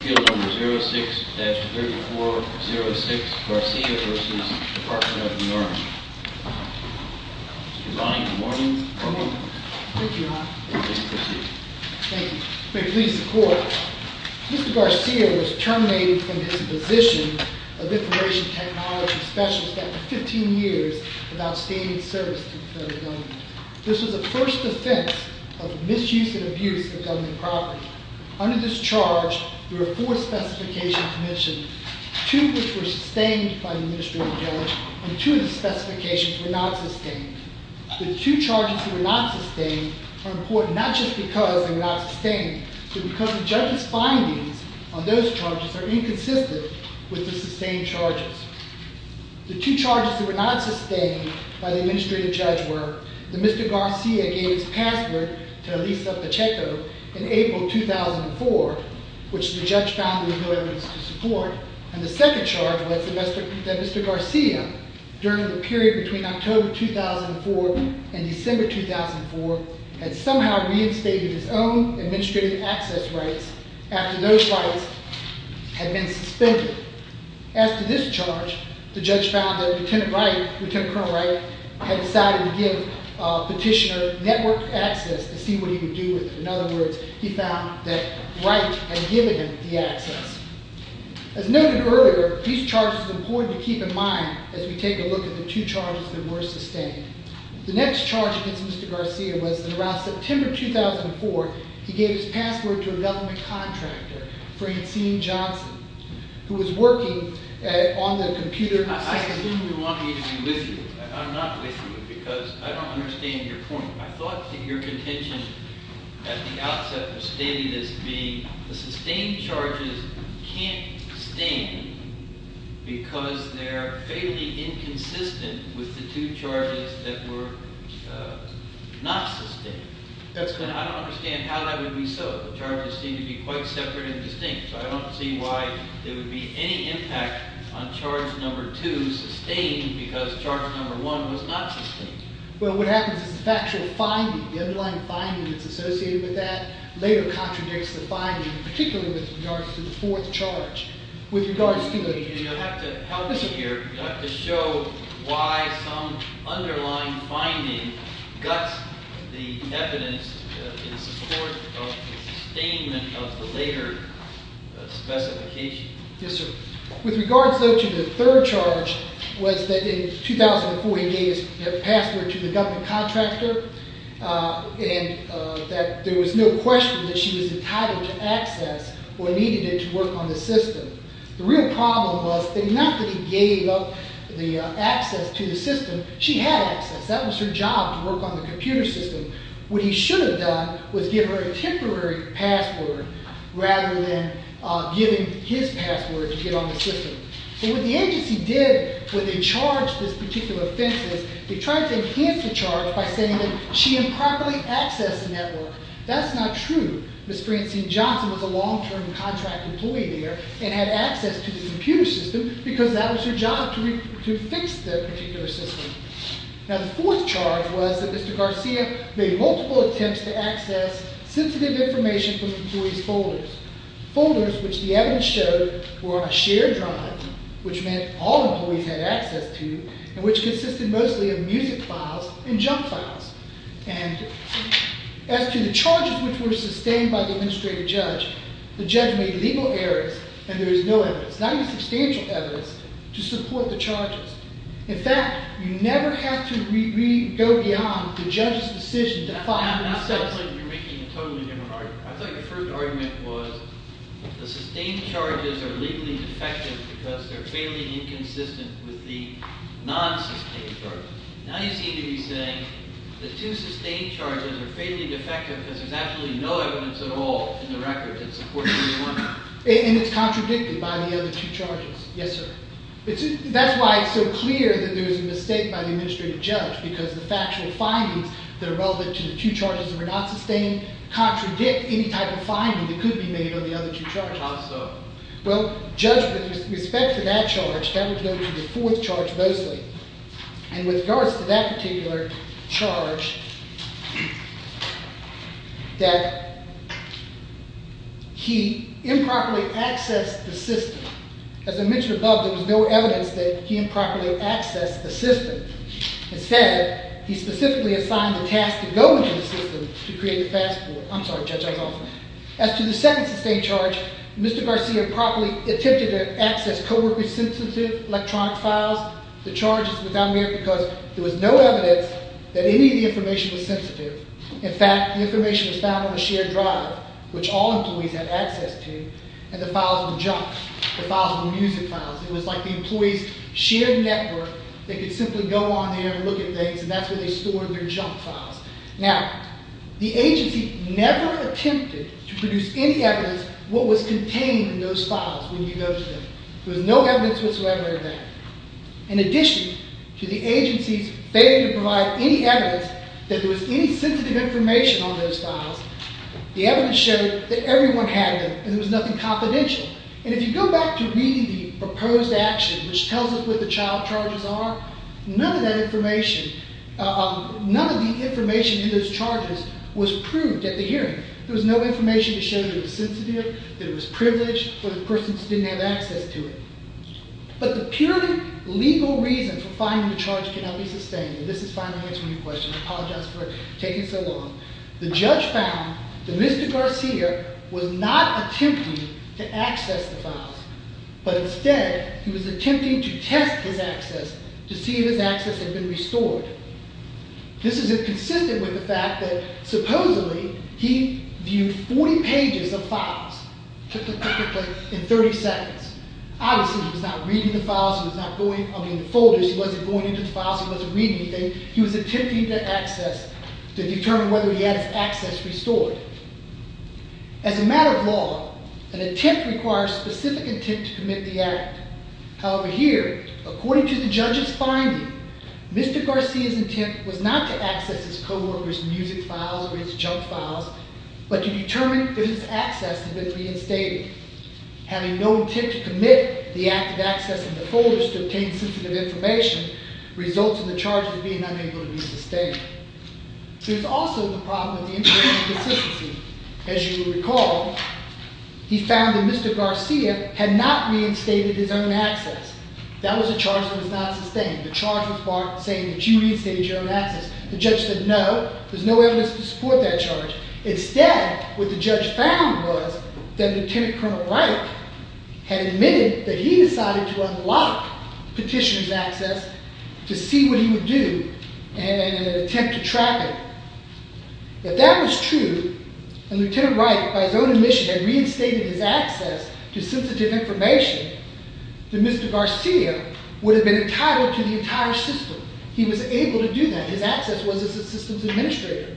Field Number 06-3406, Garcia v. Department of the Army Mr. Devine, good morning. Good morning. Thank you, Ron. Please proceed. Thank you. May it please the court. Mr. Garcia was terminated from his position of Information Technology Specialist after 15 years of outstanding service to the federal government. This was the first offense of misuse and abuse of government property. Under this charge, there were four specifications mentioned. Two of which were sustained by the administrative judge, and two of the specifications were not sustained. The two charges that were not sustained are important not just because they were not sustained, but because the judge's findings on those charges are inconsistent with the sustained charges. The two charges that were not sustained by the administrative judge were that Mr. Garcia gave his password to Elisa Pacheco in April 2004, which the judge found there was no evidence to support, and the second charge was that Mr. Garcia, during the period between October 2004 and December 2004, had somehow reinstated his own administrative access rights after those rights had been suspended. As to this charge, the judge found that Lt. Col. Wright had decided to give petitioner network access to see what he could do with it. In other words, he found that Wright had given him the access. As noted earlier, these charges are important to keep in mind as we take a look at the two charges that were sustained. The next charge against Mr. Garcia was that around September 2004, he gave his password to a government contractor, Francine Johnson, who was working on the computer system. I assume you want me to be with you. I'm not with you because I don't understand your point. I thought that your contention at the outset was stating as being the sustained charges can't stand because they're fairly inconsistent with the two charges that were not sustained. That's correct. I don't understand how that would be so. The charges seem to be quite separate and distinct, so I don't see why there would be any impact on charge number two sustained because charge number one was not sustained. Well, what happens is the factual finding, the underlying finding that's associated with that, later contradicts the finding, particularly with regards to the fourth charge. You'll have to help me here. You'll have to show why some underlying finding guts the evidence in support of the sustainment of the later specification. Yes, sir. With regards, though, to the third charge was that in 2004, he gave his password to the government contractor and that there was no question that she was entitled to access or needed it to work on the system. The real problem was that not that he gave up the access to the system, she had access. That was her job, to work on the computer system. What he should have done was give her a temporary password rather than giving his password to get on the system. But what the agency did when they charged this particular offense is they tried to enhance the charge by saying that she improperly accessed the network. That's not true. Ms. Francine Johnson was a long-term contract employee there and had access to the computer system because that was her job, to fix the particular system. Now, the fourth charge was that Mr. Garcia made multiple attempts to access sensitive information from employees' folders. Folders, which the evidence showed, were a shared drive, which meant all employees had access to, and which consisted mostly of music files and junk files. And as to the charges which were sustained by the administrative judge, the judge made legal errors, and there is no evidence, not even substantial evidence, to support the charges. In fact, you never have to re-go beyond the judge's decision to file themselves. You're making a totally different argument. I thought your first argument was the sustained charges are legally defective because they're fairly inconsistent with the non-sustained charges. Now you seem to be saying the two sustained charges are fairly defective because there's actually no evidence at all in the record that supports what you're saying. And it's contradicted by the other two charges. Yes, sir. That's why it's so clear that there's a mistake by the administrative judge, because the factual findings that are relevant to the two charges that were not sustained contradict any type of finding that could be made on the other two charges. How so? Well, Judge, with respect to that charge, that would go to the fourth charge mostly. And with regards to that particular charge, that he improperly accessed the system. As I mentioned above, there was no evidence that he improperly accessed the system. Instead, he specifically assigned the task to go into the system to create the fast forward. I'm sorry, Judge, I was off. As to the second sustained charge, Mr. Garcia improperly attempted to access co-worker-sensitive electronic files. The charge is without merit because there was no evidence that any of the information was sensitive. In fact, the information was found on a shared drive, which all employees have access to, and the files were junk. The files were music files. It was like the employee's shared network. They could simply go on there and look at things, and that's where they stored their junk files. Now, the agency never attempted to produce any evidence of what was contained in those files when you go to them. There was no evidence whatsoever of that. In addition to the agency's failure to provide any evidence that there was any sensitive information on those files, the evidence showed that everyone had them, and there was nothing confidential. And if you go back to reading the proposed action, which tells us what the child charges are, none of that information, none of the information in those charges was proved at the hearing. There was no information to show that it was sensitive, that it was privileged, or the person just didn't have access to it. But the purely legal reason for finding the charge cannot be sustained, and this is finally answering your question. I apologize for taking so long. The judge found that Mr. Garcia was not attempting to access the files, but instead he was attempting to test his access to see if his access had been restored. This is consistent with the fact that supposedly he viewed 40 pages of files in 30 seconds. Obviously, he was not reading the folders. He wasn't going into the files. He wasn't reading anything. He was attempting to access to determine whether he had his access restored. As a matter of law, an attempt requires specific intent to commit the act. However, here, according to the judge's finding, Mr. Garcia's intent was not to access his co-workers' music files or his junk files, but to determine if his access had been reinstated. Having no intent to commit the act of accessing the folders to obtain sensitive information results in the charge not being able to be sustained. There's also the problem with the inconsistency. As you recall, he found that Mr. Garcia had not reinstated his own access. That was a charge that was not sustained. The charge was saying that you reinstated your own access. The judge said no. There's no evidence to support that charge. Instead, what the judge found was that Lieutenant Colonel Wright had admitted that he decided to unlock Petitioner's access to see what he would do and attempt to track it. If that was true, and Lieutenant Wright, by his own admission, had reinstated his access to sensitive information, then Mr. Garcia would have been entitled to the entire system. He was able to do that. His access was as a systems administrator.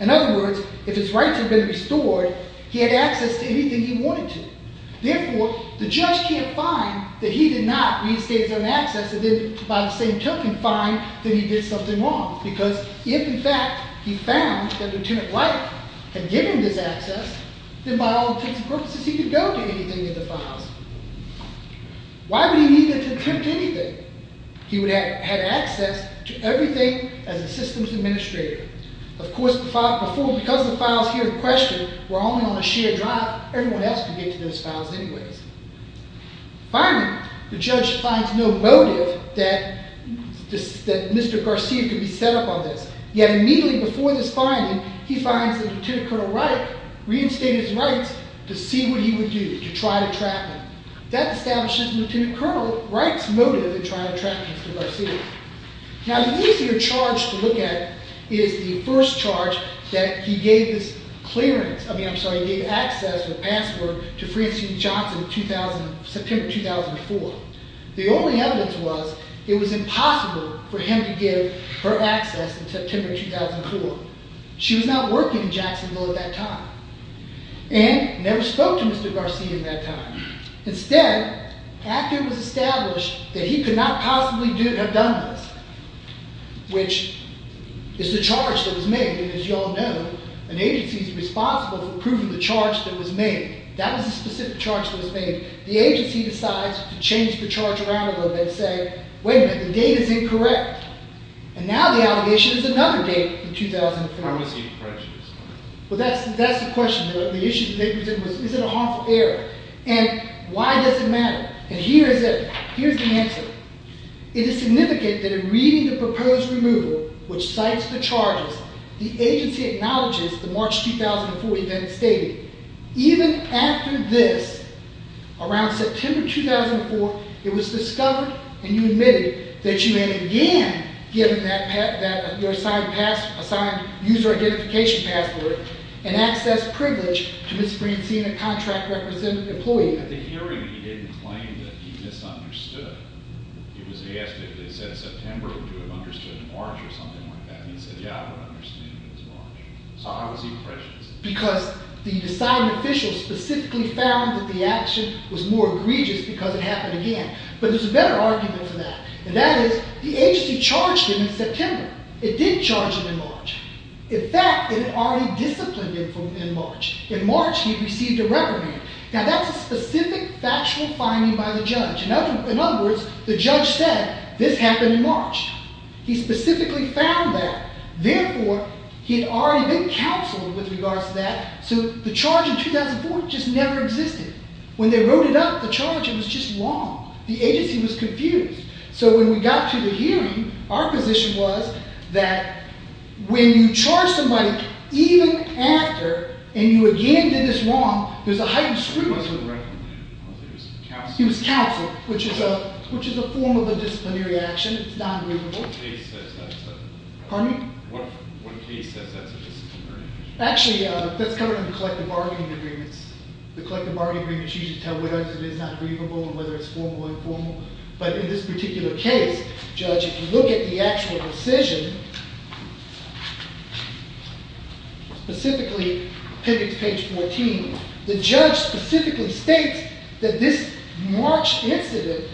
In other words, if his rights had been restored, he had access to anything he wanted to. Therefore, the judge can't find that he did not reinstate his own access and then, by the same token, find that he did something wrong. Because if, in fact, he found that Lieutenant Wright had given him this access, then by all intents and purposes, he could go to anything in the files. Why would he need to attempt anything? He would have had access to everything as a systems administrator. Of course, because the files here in question were only on a shared drive, not everyone else could get to those files anyways. Finally, the judge finds no motive that Mr. Garcia could be set up on this. Yet immediately before this finding, he finds that Lieutenant Colonel Wright reinstated his rights to see what he would do, to try to track him. That establishes Lieutenant Colonel Wright's motive in trying to track Mr. Garcia. Now, the easier charge to look at is the first charge that he gave this clearance, I mean, I'm sorry, he gave access or password to Francine Johnson in September 2004. The only evidence was it was impossible for him to give her access in September 2004. She was not working in Jacksonville at that time and never spoke to Mr. Garcia at that time. Instead, after it was established that he could not possibly have done this, which is the charge that was made, and as you all know, an agency is responsible for approving the charge that was made. That was the specific charge that was made. The agency decides to change the charge around a little bit and say, wait a minute, the date is incorrect. And now the allegation is another date in 2004. But that's the question. The issue they presented was, is it a harmful error? And why does it matter? And here is the answer. It is significant that in reading the proposed removal, which cites the charges, the agency acknowledges the March 2004 event stated. Even after this, around September 2004, it was discovered, and you admitted that you had again given your assigned user identification password and access privilege to Ms. Francine, a contract representative employee. At the hearing, he didn't claim that he misunderstood. He was asked if they said September, would you have understood March or something like that. And he said, yeah, I would understand if it was March. So how is he prejudiced? Because the assigned official specifically found that the action was more egregious because it happened again. But there's a better argument for that, and that is the agency charged him in September. It did charge him in March. In fact, it already disciplined him in March. In March, he received a reprimand. Now, that's a specific factual finding by the judge. In other words, the judge said, this happened in March. He specifically found that. Therefore, he had already been counseled with regards to that. So the charge in 2004 just never existed. When they wrote it up, the charge, it was just wrong. The agency was confused. So when we got to the hearing, our position was that when you charge somebody, even after, and you again did this wrong, there's a heightened scrutiny. He wasn't recommended. He was counseled. He was counseled, which is a form of a disciplinary action. It's not agreeable. What case says that? Pardon me? What case says that's a disciplinary action? Actually, that's covered in the collective bargaining agreements. The collective bargaining agreements usually tell whether it is not agreeable or whether it's formal or informal. But in this particular case, judge, if you look at the actual decision, specifically, pivot to page 14, the judge specifically states that this March incident,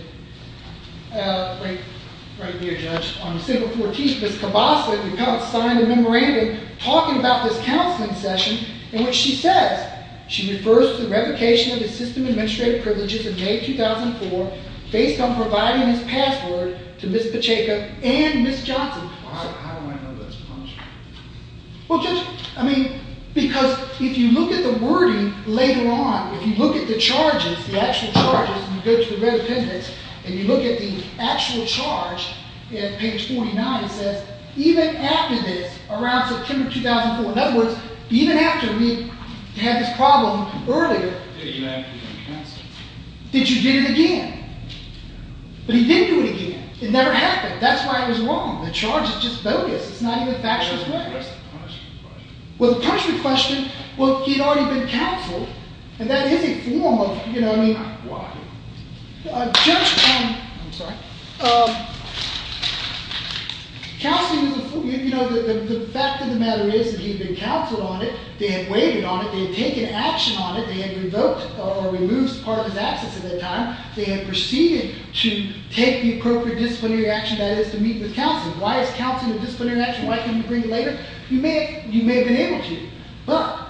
right here, judge, on December 14th, Ms. Cabasa, the counselor, signed a memorandum talking about this counseling session in which she says she refers to the revocation of his system administrative privileges in May 2004 based on providing his password to Ms. Pacheco and Ms. Johnson. How do I know that's a punishment? Well, judge, I mean, because if you look at the wording later on, if you look at the charges, the actual charges, and you go to the red appendix and you look at the actual charge, at page 49, it says, even after this, around September 2004, in other words, even after we had this problem earlier, did you do it again? But he didn't do it again. It never happened. That's why it was wrong. The charge is just bogus. It's not even factual. Well, the punishment question, well, he had already been counseled, and that is a form of, you know, I mean... Why? Judge, um... I'm sorry. Counseling is a form... You know, the fact of the matter is that he had been counseled on it, they had waited on it, they had taken action on it, they had revoked or removed part of his access at that time, they had proceeded to take the appropriate disciplinary action, that is, to meet with counseling. Why is counseling a disciplinary action? Why couldn't you bring it later? You may have been able to, but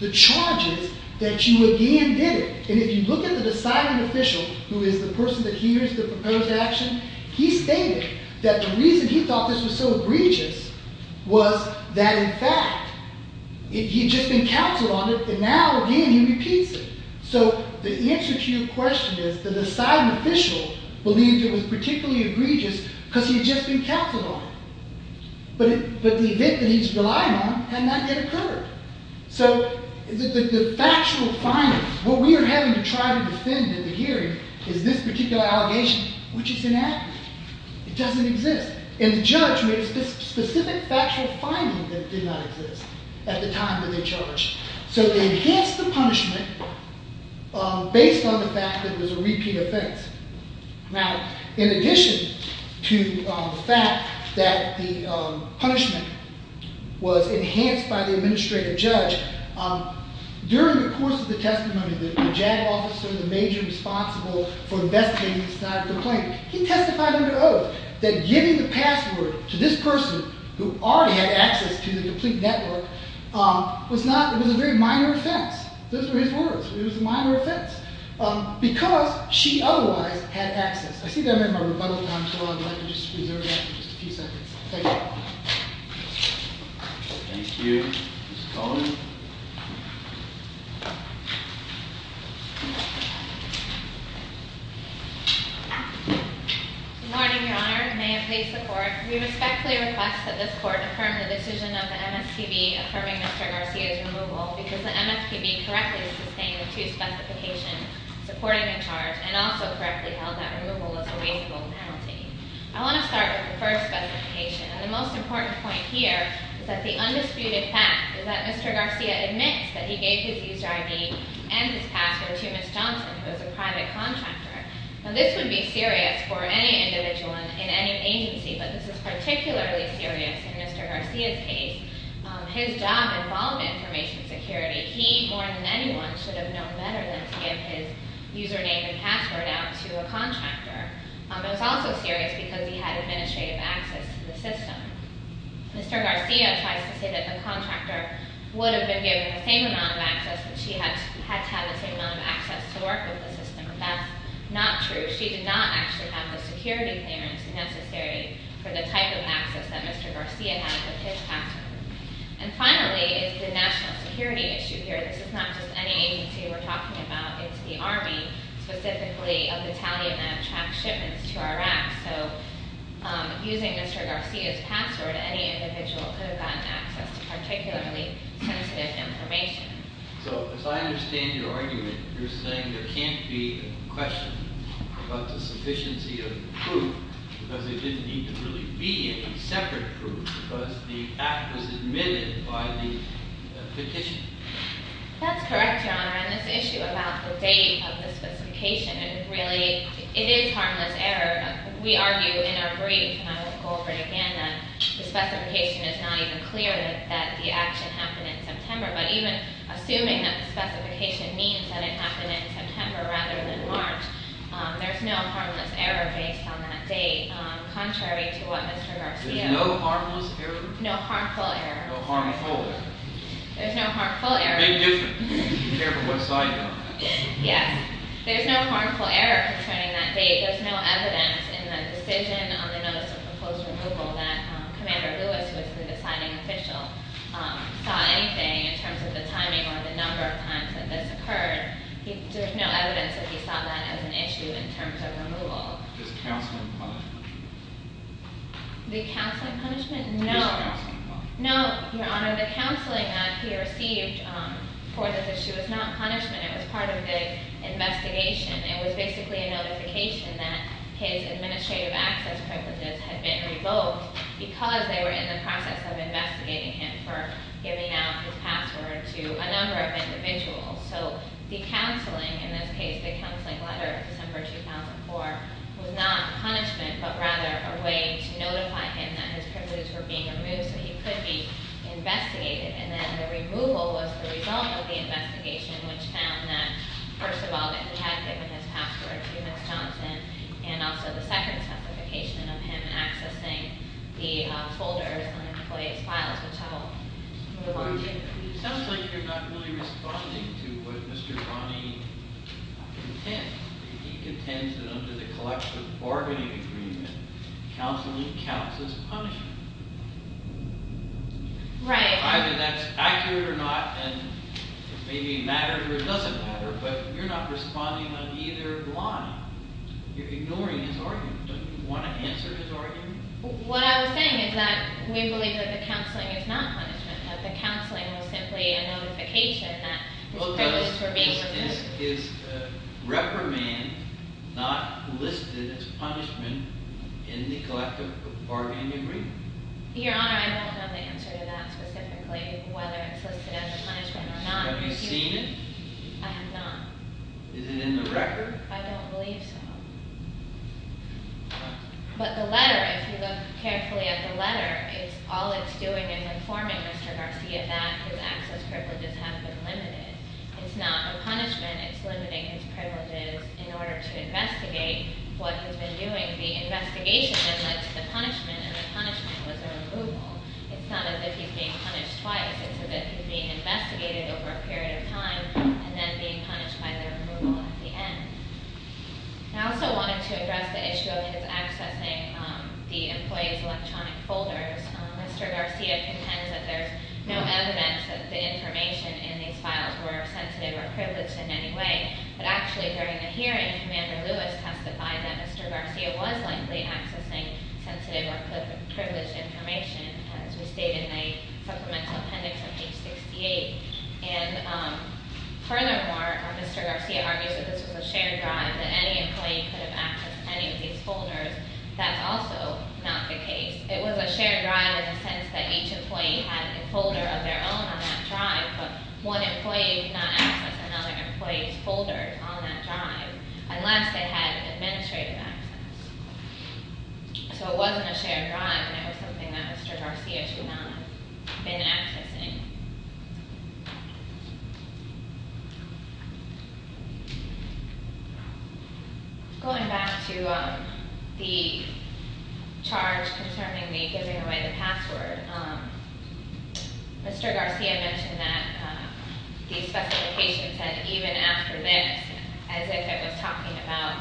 the charge is that you again did it. And if you look at the deciding official, who is the person that hears the proposed action, he stated that the reason he thought this was so egregious was that, in fact, he had just been counseled on it, and now, again, he repeats it. So the answer to your question is the deciding official believed it was particularly egregious because he had just been counseled on it. But the event that he's relying on had not yet occurred. So the factual finding, what we are having to try to defend in the hearing is this particular allegation, which is inaccurate. It doesn't exist. And the judge made a specific factual finding that did not exist at the time that they charged. So they enhanced the punishment based on the fact that it was a repeat offense. Now, in addition to the fact that the punishment was enhanced by the administrative judge, during the course of the testimony, the JAG officer, the major responsible for investigating the Snyder complaint, he testified under oath that giving the password to this person who already had access to the complete network was a very minor offense. Those were his words. It was a minor offense. Because she otherwise had access. I see that I'm in my rebuttal time, so I'd like to just reserve that for just a few seconds. Thank you. Thank you. Ms. Coleman? Good morning, Your Honor. May it please the Court, we respectfully request that this Court affirm the decision of the MSTB affirming Mr. Garcia's removal because the MSTB correctly sustained the two specifications supporting the charge and also correctly held that removal was a reasonable penalty. I want to start with the first specification, and the most important point here is that the undisputed fact is that Mr. Garcia admits that he gave his user ID and his password to Ms. Johnson, who is a private contractor. Now, this would be serious for any individual in any agency, but this is particularly serious in Mr. Garcia's case. His job involved information security. He, more than anyone, should have known better than to give his username and password out to a contractor. It was also serious because he had administrative access to the system. Mr. Garcia tries to say that the contractor would have been given the same amount of access that she had to have the same amount of access to work with the system. That's not true. She did not actually have the security clearance necessary for the type of access that Mr. Garcia had with his password. And finally is the national security issue here. This is not just any agency we're talking about. It's the Army, specifically a battalion that tracks shipments to Iraq. So using Mr. Garcia's password, any individual could have gotten access to particularly sensitive information. So as I understand your argument, you're saying there can't be a question about the sufficiency of the proof because there didn't need to really be any separate proof because the act was admitted by the petition. That's correct, Your Honor. And this issue about the date of the specification, really, it is harmless error. We argue in our brief, and I will go over it again, that the specification is not even clear that the action happened in September. But even assuming that the specification means that it happened in September rather than March, there's no harmless error based on that date, contrary to what Mr. Garcia said. There's no harmless error? No harmful error. No harmful error. There's no harmful error. It may be different, depending on what side you're on. Yes. There's no harmful error concerning that date. There's no evidence in the decision on the notice of proposed removal that Commander Lewis, who was the deciding official, saw anything in terms of the timing or the number of times that this occurred. There's no evidence that he saw that as an issue in terms of removal. Does counseling punishment? The counseling punishment? No. Does counseling punishment? No, Your Honor. The counseling that he received for this issue is not punishment. It was part of the investigation. It was basically a notification that his administrative access privileges had been revoked because they were in the process of investigating him for giving out his password to a number of individuals. So the counseling, in this case, the counseling letter of December 2004, was not a punishment, but rather a way to notify him that his privileges were being removed so he could be investigated. And then the removal was the result of the investigation, which found that, first of all, that he had given his password to Ms. Johnson, and also the second specification of him accessing the folders on the employee's files, which I will move on to. It sounds like you're not really responding to what Mr. Ronnie contends. He contends that under the collective bargaining agreement, counseling counts as punishment. Right. Either that's accurate or not, and it may be a matter or it doesn't matter, but you're not responding on either line. You're ignoring his argument. Don't you want to answer his argument? What I was saying is that we believe that the counseling is not punishment, that the counseling was simply a notification that his privileges were being removed. Is reprimand not listed as punishment in the collective bargaining agreement? Your Honor, I don't have the answer to that specifically, whether it's listed as a punishment or not. Have you seen it? I have not. Is it in the record? I don't believe so. But the letter, if you look carefully at the letter, it's all it's doing is informing Mr. Garcia that his access privileges have been limited. It's not a punishment. It's limiting his privileges in order to investigate what he's been doing. The investigation then led to the punishment, and the punishment was a removal. It's not as if he's being punished twice. It's as if he's being investigated over a period of time and then being punished by the removal at the end. I also wanted to address the issue of his accessing the employee's electronic folders. Mr. Garcia contends that there's no evidence that the information in these files were sensitive or privileged in any way. But actually, during the hearing, Commander Lewis testified that Mr. Garcia was likely accessing sensitive or privileged information, as we state in the supplemental appendix of page 68. And furthermore, Mr. Garcia argues that this was a shared drive, that any employee could have accessed any of these folders. That's also not the case. It was a shared drive in the sense that each employee had a folder of their own on that drive, but one employee did not access another employee's folders on that drive, unless they had administrative access. So it wasn't a shared drive, and it was something that Mr. Garcia did not have been accessing. Going back to the charge concerning the giving away the password, Mr. Garcia mentioned that the specifications said, even after this, as if it was talking about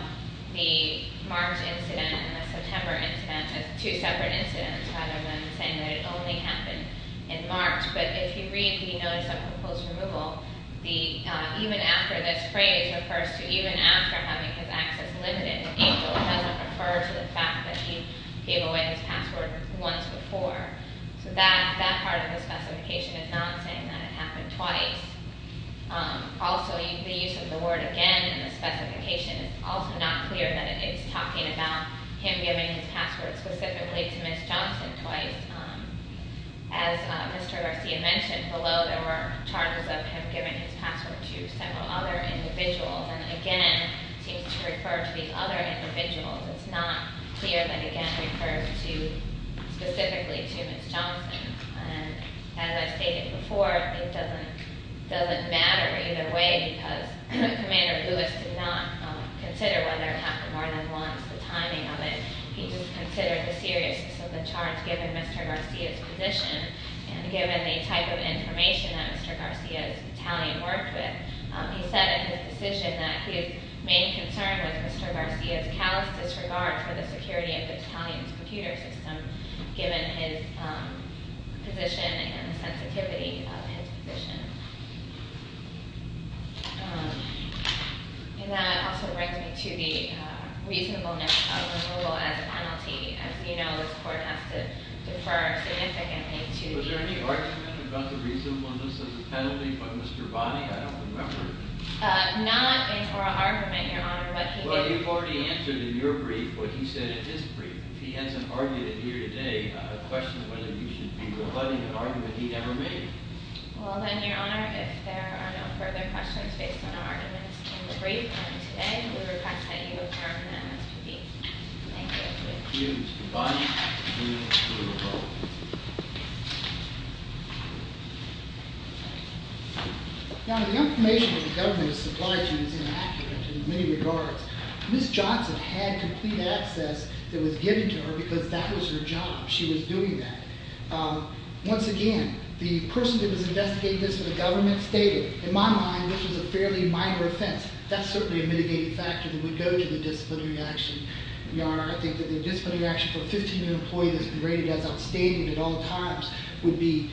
the March incident and the September incident as two separate incidents, rather than saying that it only happened in March, but if you read the notice of proposed removal, the even after this phrase refers to even after having his access limited. It doesn't refer to the fact that he gave away his password once before. So that part of the specification is not saying that it happened twice. Also, the use of the word again in the specification is also not clear that it is talking about him giving his password specifically to Ms. Johnson twice. As Mr. Garcia mentioned, below there were charges of him giving his password to several other individuals, and again, it seems to refer to the other individuals. It's not clear that it again refers specifically to Ms. Johnson. As I stated before, it doesn't matter either way because Commander Lewis did not consider whether it happened more than once, the timing of it. He just considered the seriousness of the charge given Mr. Garcia's position, and given the type of information that Mr. Garcia's battalion worked with, he said in his decision that his main concern was Mr. Garcia's callous disregard for the security of the battalion's computer system, given his position and the sensitivity of his position. And that also brings me to the reasonableness of removal as a penalty. As you know, this court has to defer significantly to the- Was there any argument about the reasonableness of the penalty by Mr. Bonney? I don't remember. Not in oral argument, Your Honor, but he did- Well, you've already answered in your brief what he said in his brief. He hasn't argued it here today. I have a question of whether you should be rebutting an argument he never made. Well, then, Your Honor, if there are no further questions based on our arguments in the brief, then today we request that you adjourn the MSPB. Thank you, Mr. Bonney. Your Honor, the information that the government has supplied you is inaccurate in many regards. Ms. Johnson had complete access that was given to her because that was her job. She was doing that. Once again, the person that was investigating this for the government stated, in my mind, this was a fairly minor offense. That's certainly a mitigating factor that would go to the disciplinary action. Your Honor, I think that the disciplinary action for a 15-year employee that's been rated as outstanding at all times would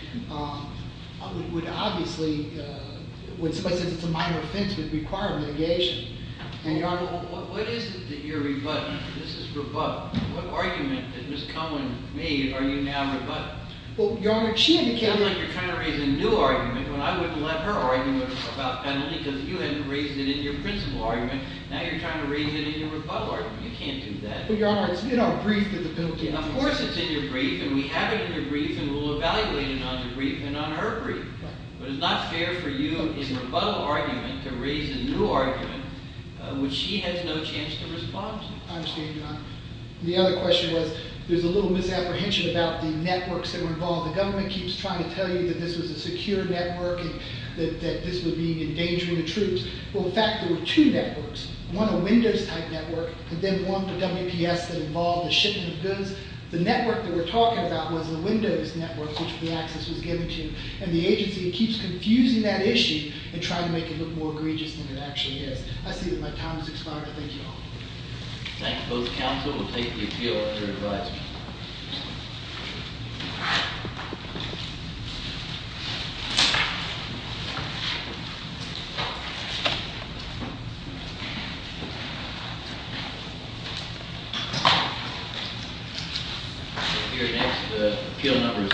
obviously, when somebody says it's a minor offense, would require mitigation. And, Your Honor- What is it that you're rebutting? This is rebuttal. What argument that Ms. Conlin made are you now rebutting? Well, Your Honor, she indicated- It's like you're trying to raise a new argument when I wouldn't let her argue about penalty because you hadn't raised it in your principal argument. Now you're trying to raise it in your rebuttal argument. You can't do that. But, Your Honor, it's in our brief that the bill came out. Of course it's in your brief, and we have it in your brief, and we'll evaluate it on your brief and on her brief. But it's not fair for you, in a rebuttal argument, to raise a new argument which she has no chance to respond to. I understand, Your Honor. The other question was, there's a little misapprehension about the networks that were involved. The government keeps trying to tell you that this was a secure network and that this was being endangered with the troops. Well, in fact, there were two networks. One, a Windows-type network, and then one for WPS that involved the shipping of goods. The network that we're talking about was a Windows network, which the access was given to. And the agency keeps confusing that issue and trying to make it look more egregious than it actually is. I see that my time has expired. I thank you all. Thank you, both counsel. We'll take the appeal under advisory. Thank you.